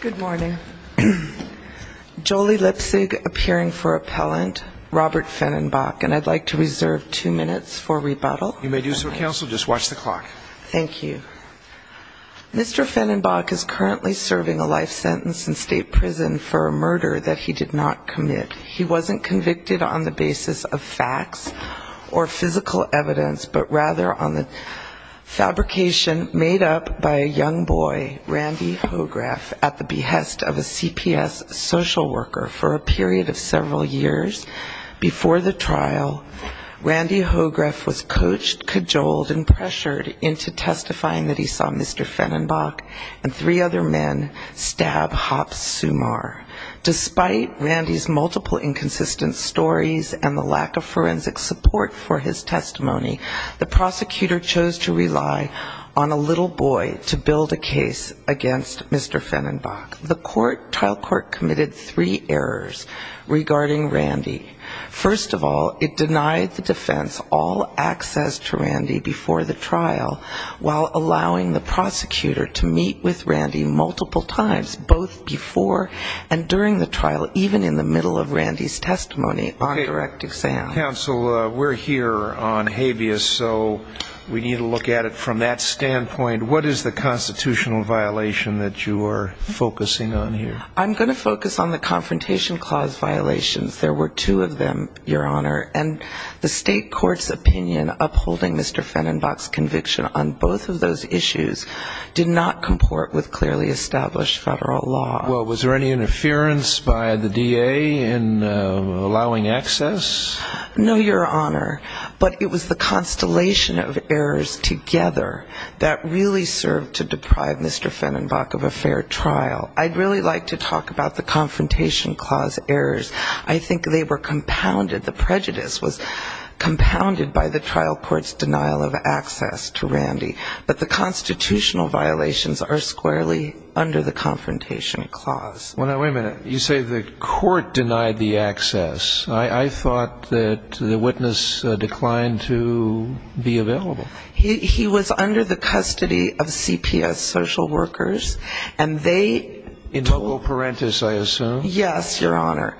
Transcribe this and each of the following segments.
Good morning. Jolie Lipsig, appearing for appellant. Robert Fenenbock, and I'd like to reserve two minutes for rebuttal. You may do so, counsel. Just watch the clock. Thank you. Mr. Fenenbock is currently serving a life sentence in state prison for a murder that he did not commit. He wasn't convicted on the basis of facts or physical evidence, but rather on the fabrication made up by a young boy, Randy Hohgraf, at the behest of a CPS social worker for a period of several years. Before the trial, Randy Hohgraf was coached, cajoled, and pressured into testifying that he saw Mr. Fenenbock and three other men stab Hopp Sumar. Despite Randy's multiple inconsistent stories and the lack of forensic support for his testimony, the prosecutor chose to rely on a little boy to build a case against Mr. Fenenbock. The trial court committed three errors regarding Randy. First of all, it denied the defense all access to Randy before the trial, while allowing the prosecutor to meet with Randy multiple times, both before and during the trial. Even in the middle of Randy's testimony on direct exam. Counsel, we're here on habeas, so we need to look at it from that standpoint. What is the constitutional violation that you are focusing on here? I'm going to focus on the confrontation clause violations. There were two of them, Your Honor. And the state court's opinion upholding Mr. Fenenbock's conviction on both of those issues did not comport with clearly established federal law. Well, was there any interference by the DA in allowing access? No, Your Honor. But it was the constellation of errors together that really served to deprive Mr. Fenenbock of a fair trial. I'd really like to talk about the confrontation clause errors. I think they were compounded. The prejudice was compounded by the trial court's denial of access to Randy. But the constitutional violations are squarely under the confrontation clause. Well, now, wait a minute. You say the court denied the access. I thought that the witness declined to be available. He was under the custody of CPS social workers, and they... In total parenthesis, I assume. Yes, Your Honor.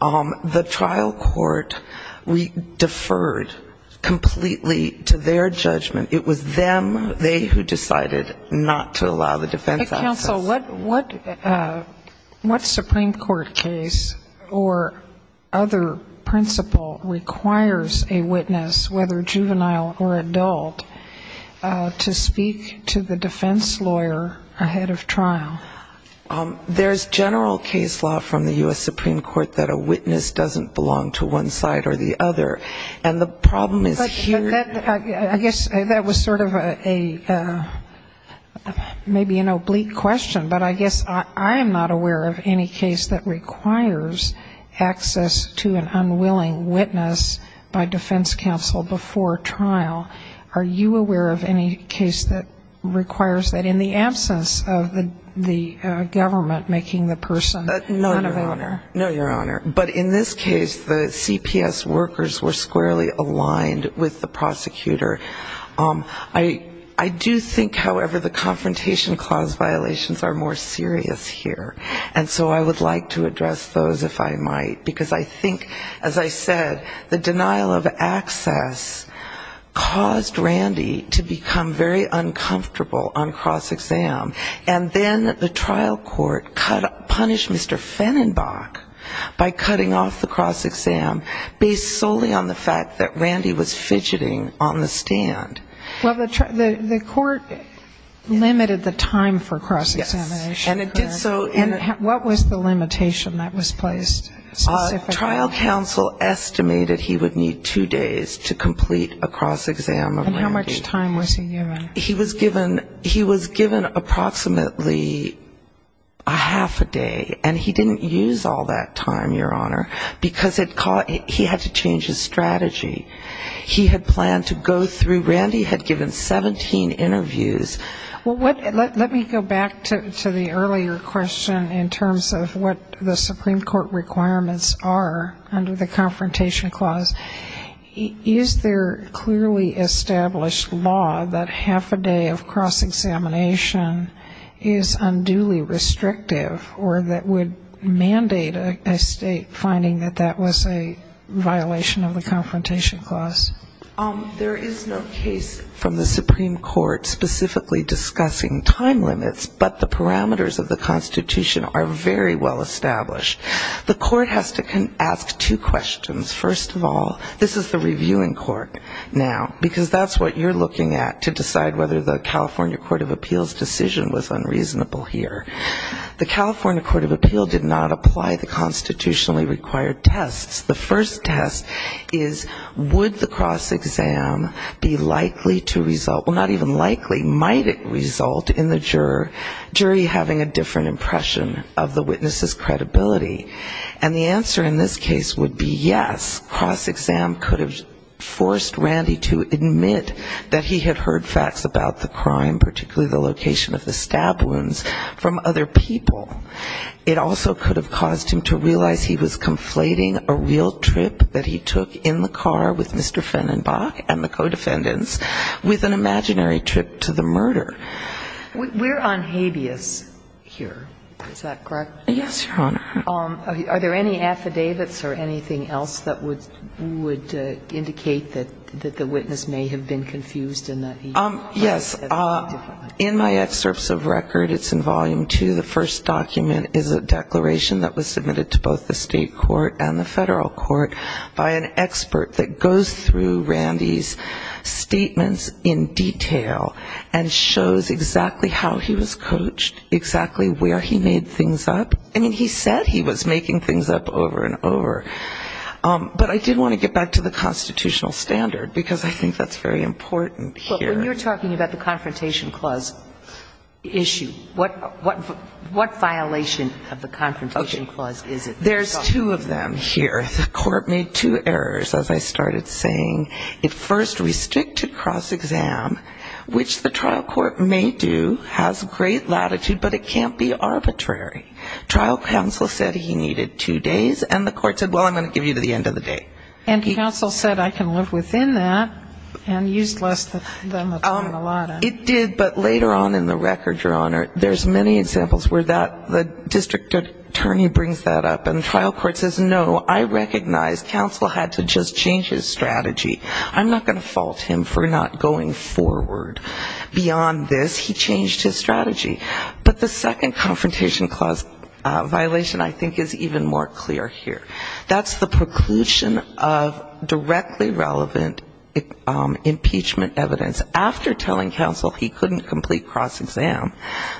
The trial court, we deferred completely to their judgment. It was them, they who decided not to allow the defense access. Counsel, what Supreme Court case or other principle requires a witness, whether juvenile or adult, to speak to the defense lawyer ahead of trial? There's general case law from the U.S. Supreme Court that a witness doesn't belong to one side or the other. And the problem is here... I guess that was sort of a maybe an oblique question, but I guess I am not aware of any case that requires access to an unwilling witness by defense counsel before trial. Are you aware of any case that requires that in the absence of the government making the person unavailable? No, Your Honor. But in this case, the CPS workers were squarely aligned with the prosecutor. I do think, however, the confrontation clause violations are more serious here. And so I would like to address those, if I might. Because I think, as I said, the denial of access caused Randy to become very uncomfortable on cross-exam. And then the trial court punished Mr. Fennenbach by cutting off the cross-exam, based solely on the fact that Randy was fidgeting on the stand. Well, the court limited the time for cross-examination. And what was the limitation that was placed? Trial counsel estimated he would need two days to complete a cross-exam of Randy. And how much time was he given? He was given approximately a half a day. And he didn't use all that time, Your Honor, because he had to change his strategy. He had planned to go through the trial, but Randy had given 17 interviews. Well, let me go back to the earlier question in terms of what the Supreme Court requirements are under the confrontation clause. Is there clearly established law that half a day of cross-examination is unduly restrictive, or that would mandate a state finding that that was a violation of the confrontation clause? There is no case from the Supreme Court specifically discussing time limits, but the parameters of the Constitution are very well established. The court has to ask two questions. First of all, this is the reviewing court now, because that's what you're looking at to decide whether the California Court of Appeals decision was unreasonable here. The California Court of Appeals did not apply the constitutionally required tests. The first test is, would the Constitutionally Required Tests apply the Constitutionally Required Tests? The second test is, would Randy's cross-exam be likely to result, well, not even likely, might it result in the jury having a different impression of the witness' credibility? And the answer in this case would be yes, cross-exam could have forced Randy to admit that he had heard facts about the crime, particularly the location of the stab wounds from other people. It also could have caused him to realize he was conflating a real trip that he took in the car with Mr. Fennenbach and the co-defendants with an imaginary trip to the murder. We're on habeas here, is that correct? Yes, Your Honor. Are there any affidavits or anything else that would indicate that the witness may have been confused and that he might have said something different? In my excerpts of record, it's in volume two, the first document is a declaration that was submitted to both the state court and the federal court by an expert that goes through Randy's statements in detail and shows exactly how he was coached, exactly where he made things up. I mean, he said he was making things up over and over. But I did want to get back to the constitutional standard because I think that's very important here. When you're talking about the confrontation clause issue, what violation of the confrontation clause is it? There's two of them here. The court made two errors, as I started saying. It first restricted cross-exam, which the trial court may do, has great latitude, but it can't be arbitrary. Trial counsel said he needed two days, and the court said, well, I'm going to give you to the end of the day. And counsel said I can live within that and used less than the time allotted. It did, but later on in the record, Your Honor, there's many examples where the district attorney brings that up and the trial court says, no, I recognize counsel had to just change his strategy. I'm not going to fault him for not going forward. Beyond this, he changed his strategy. But the second confrontation clause violation I think is even more clear here. That's the preclusion of directly relevant impeachment evidence. After telling counsel he couldn't complete cross-exam,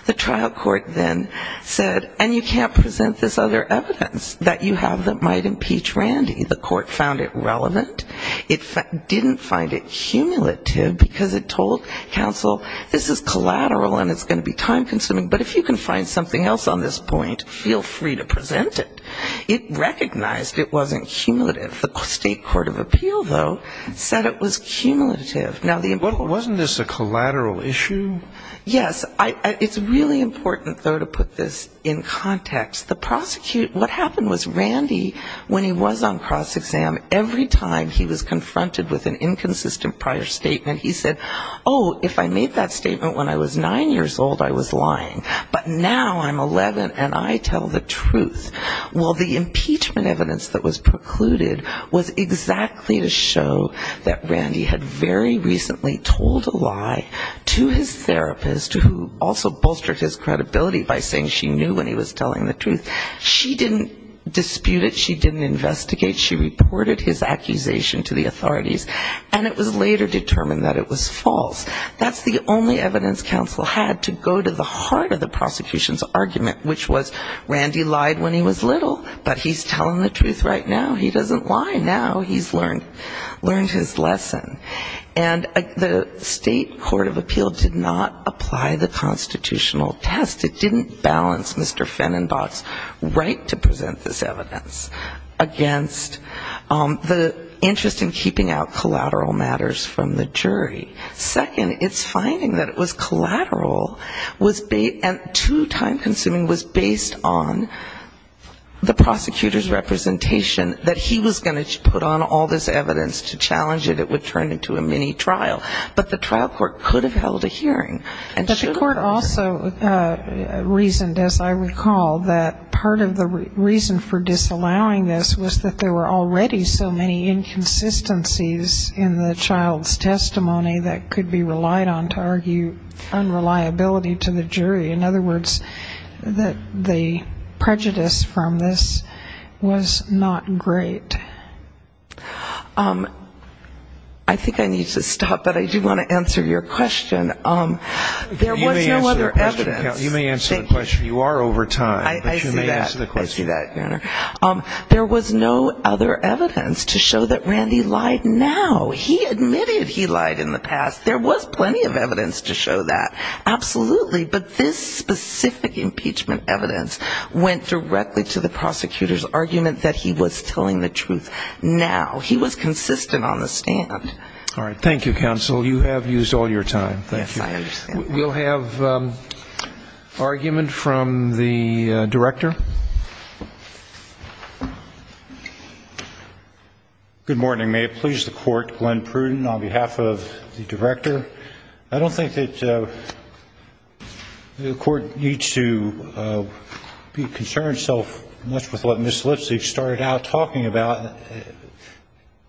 the trial court then said, and you can't present this other evidence that you have that might impeach Randy. The court found it relevant. It didn't find it cumulative because it told counsel this is collateral and it's going to be time-consuming, but if you can find something else on this point, feel free to present it. It recognized it wasn't cumulative. The state court of appeal, though, said it was cumulative. Now, the important thing to note here is that this is not a collateral issue. Yes, it's really important, though, to put this in context. The prosecutor, what happened was Randy, when he was on cross-exam, every time he was confronted with an inconsistent prior statement, he said, oh, if I made that statement when I was nine years old, I was lying. But now I'm 11 and I tell the truth. Well, the impeachment evidence that was precluded was exactly to show that Randy had very recently told a lie to his therapist who also bolstered his credibility by saying she knew when he was telling the truth. She didn't dispute it. She didn't investigate. She reported his accusation to the authorities. And it was later determined that it was false. That's the only evidence counsel had to go to the heart of the prosecution's argument, which was Randy lied when he was little, but he's telling the truth right now. He doesn't lie now. He's learned his lesson. And the state court of appeal did not apply the constitutional test. It didn't balance Mr. Fennenbach's right to present this evidence against the interest in keeping out collateral matters from the jury. Second, it's finding that it was collateral, and too time-consuming, was based on the prosecutor's representation, that he was going to put on all this evidence to challenge it, it would turn into a mini-trial. But the trial court could have held a hearing. And should have. But it also reasoned, as I recall, that part of the reason for disallowing this was that there were already so many inconsistencies in the child's testimony that could be relied on to argue unreliability to the jury. In other words, that the prejudice from this was not great. I think I need to stop, but I do want to answer your question. There was no other evidence. You may answer the question. You are over time, but you may answer the question. I see that, Your Honor. There was no other evidence to show that Randy lied now. He admitted he lied in the past. There was plenty of evidence to show that, absolutely, but this specific impeachment evidence went directly to the prosecutor's argument that he was telling the truth. Now. He was consistent on the stand. All right. Thank you, counsel. You have used all your time. Yes, I understand. We'll have argument from the director. Good morning. May it please the court, Glenn Pruden on behalf of the director. I don't think that the court needs to be concerned so much with what Ms. Lipsey started out talking about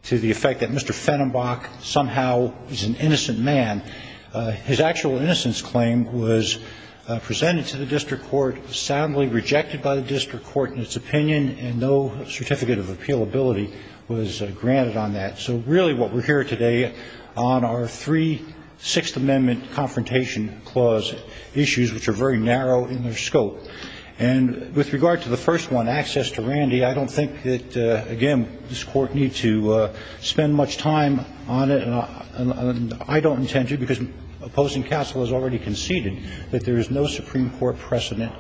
to the effect that Mr. Fennenbach somehow is an innocent man. His actual innocence claim was presented to the district court, soundly rejected by the district court in its opinion, and no certificate of appealability was granted on that. So really, what we're here today on are three Sixth Amendment confrontation clause issues, which are very narrow in their scope. And with regard to the first one, access to Randy, I don't think that, again, this court needs to spend much time on it, and I don't intend to, because opposing counsel has already conceded that there is no Supreme Court precedent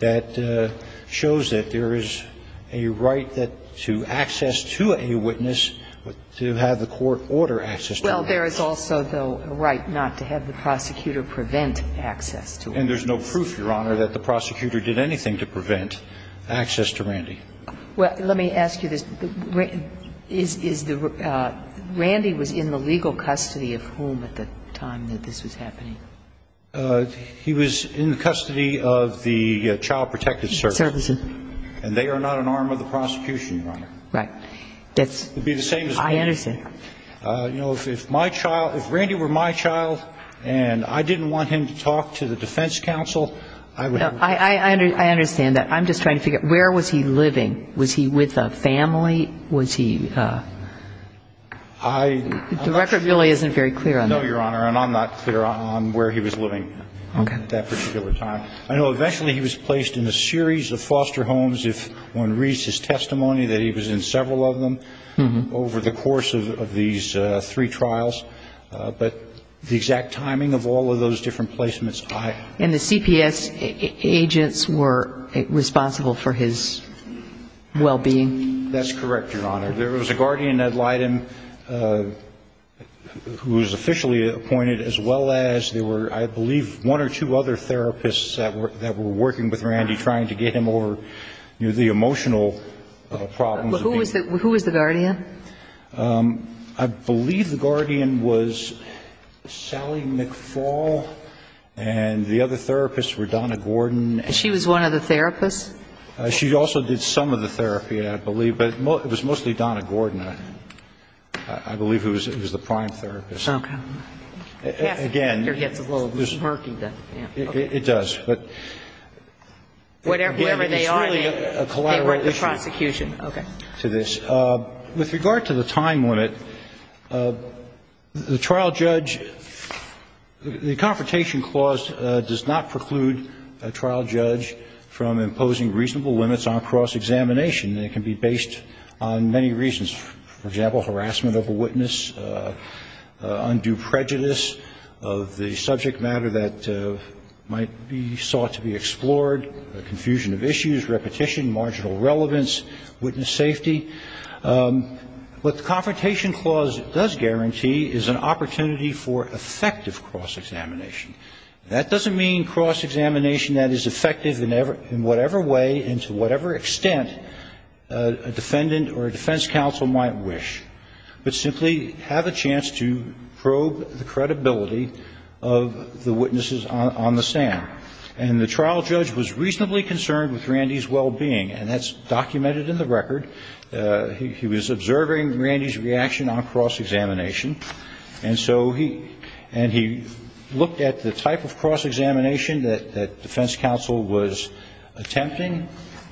that shows that there is a right to access to a witness, to have access to a witness. Well, there is also, though, a right not to have the prosecutor prevent access to a witness. And there's no proof, Your Honor, that the prosecutor did anything to prevent access to Randy. Well, let me ask you this. Randy was in the legal custody of whom at the time that this was happening? He was in custody of the Child Protective Services. And they are not an arm of the prosecution, Your Honor. Right. It would be the same as me. I understand. You know, if my child, if Randy were my child, and I didn't want him to talk to the defense counsel, I would have... I understand that. I'm just trying to figure out, where was he living? Was he with a family? Was he... I... The record really isn't very clear on that. No, Your Honor, and I'm not clear on where he was living at that particular time. I know eventually he was placed in a series of foster homes, if one reads his testimony, that he was in several of them over the course of these three trials. But the exact timing of all of those different placements, I... And the CPS agents were responsible for his well-being? That's correct, Your Honor. There was a guardian at Leiden who was officially appointed, as well as there were, I believe, one or two other therapists that were working with Randy, trying to get him over the emotional problems. Who was the guardian? I believe the guardian was Sally McFall, and the other therapists were Donna Gordon. She also did some of the therapy, I believe, but it was mostly Donna Gordon, I believe, who was the prime therapist. Okay. Again... It gets a little murky, then. It does, but... Whatever they are, they were the prosecution. It's really a collateral issue to this. With regard to the time limit, the trial judge... The Confrontation Clause does not preclude a trial judge from imposing reasonable limits on cross-examination. It can be based on many reasons. For example, harassment of a witness, undue prejudice of the subject matter that might be sought to be explored, confusion of issues, repetition, marginal relevance, witness safety. What the Confrontation Clause does guarantee is an opportunity for effective cross-examination. That doesn't mean cross-examination that is effective in whatever way and to whatever extent a defendant or a defense counsel might wish, but simply have a chance to probe the credibility of the witnesses on the stand. And the trial judge was reasonably concerned with Randy's well-being, and that's documented in the record. He was observing Randy's reaction on cross-examination, and so he looked at the type of cross-examination that defense counsel was attempting,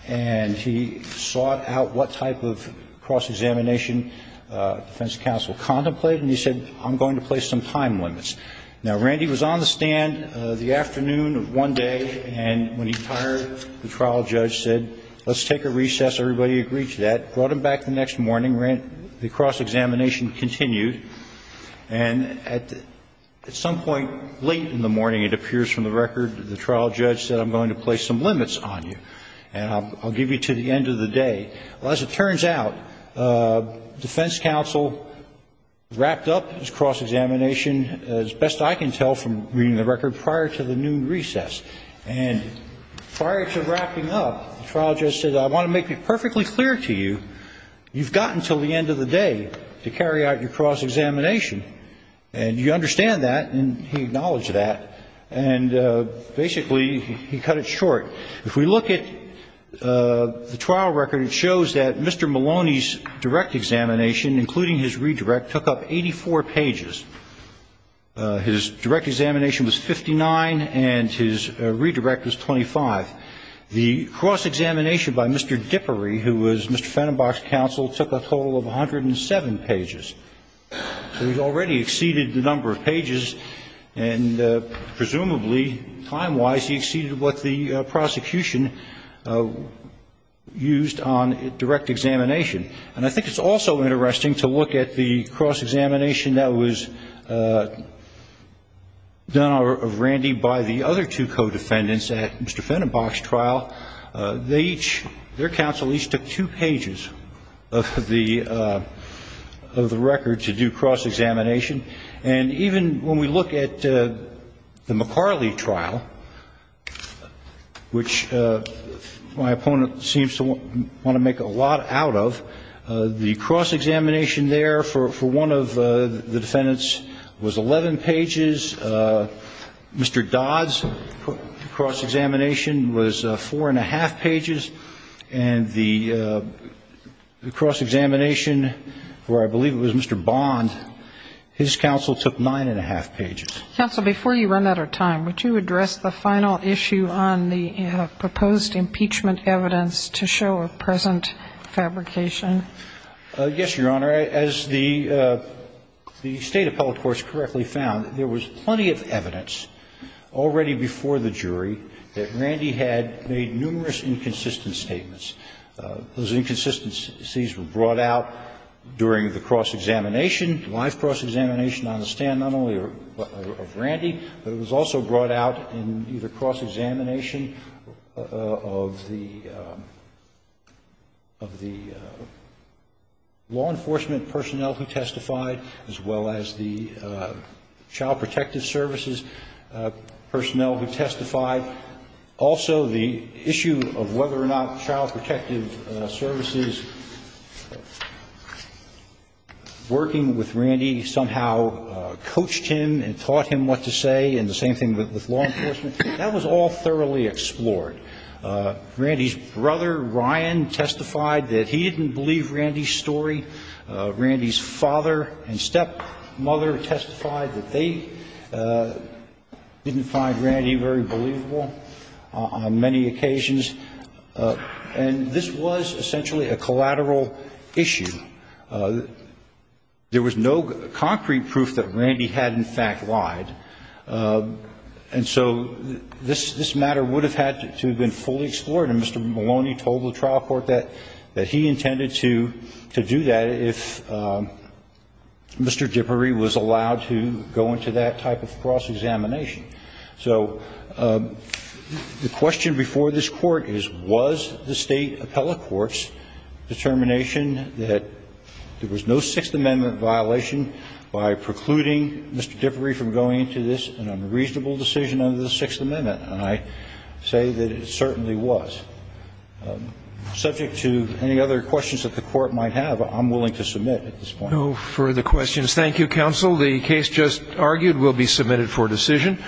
and he sought out what type of cross-examination defense counsel contemplated, and he said, I'm going to place some time limits. Now, Randy was on the stand the afternoon of one day, and when he retired, the trial judge said, let's take a recess, everybody agreed to that, brought him back the next morning. The cross-examination continued, and at some point late in the morning, it appears from the record, the trial judge said, I'm going to place some limits on you, and I'll give you to the end of the day. Well, as it turns out, defense counsel wrapped up his cross-examination, as best I can tell from reading the record, prior to the noon recess. And prior to wrapping up, the trial judge said, I want to make it perfectly clear to you, you've got until the end of the day to carry out your cross-examination, and you understand that, and he acknowledged that, and basically, he cut it short. If we look at the trial record, it shows that Mr. Maloney's direct examination, including his redirect, took up 84 pages. His direct examination was 59, and his redirect was 25. The cross-examination by Mr. Dippery, who was Mr. Fennenbach's counsel, took a total of 107 pages. So he's already exceeded the number of pages, and presumably, time-wise, he exceeded what the prosecution used on direct examination. And I think it's also interesting to look at the cross-examination that was done of Randy by the other two co-defendants at Mr. Fennenbach's trial. They each, their counsel each took two pages of the record to do cross-examination. And even when we look at the McCarley trial, which my opponent seems to want to make a lot out of, the cross-examination there for one of the defendants was 11 pages. Mr. Dodd's cross-examination was 4 1⁄2 pages. And the cross-examination, where I believe it was Mr. Bond, his counsel took 9 1⁄2 pages. Counsel, before you run out of time, would you address the final issue on the proposed impeachment evidence to show a present fabrication? Yes, Your Honor. As the State Appellate Course correctly found, there was plenty of evidence already before the jury that Randy had made numerous inconsistent statements. Those inconsistencies were brought out during the cross-examination, live cross-examination on the stand not only of Randy, but it was also brought out in either cross-examination of the law enforcement personnel who testified, as well as the child protective services personnel who testified. Also, the issue of whether or not child protective services working with Randy somehow coached him and taught him what to say, and the same thing with law enforcement. That was all thoroughly explored. Randy's brother, Ryan, testified that he didn't believe Randy's story. Randy's father and stepmother testified that they didn't find Randy very believable on many occasions. And this was essentially a collateral issue. There was no concrete proof that Randy had, in fact, lied. And so this matter would have had to have been fully explored, and Mr. Maloney told the trial court that he intended to do that if Mr. Dippery was allowed to go into that type of cross-examination. So the question before this Court is, was the State appellate court's determination that there was no Sixth Amendment violation by precluding Mr. Dippery from going into this unreasonable decision under the Sixth Amendment? And I say that it certainly was. Subject to any other questions that the Court might have, I'm willing to submit at this point. No further questions. Thank you, counsel. The case just argued will be submitted for decision.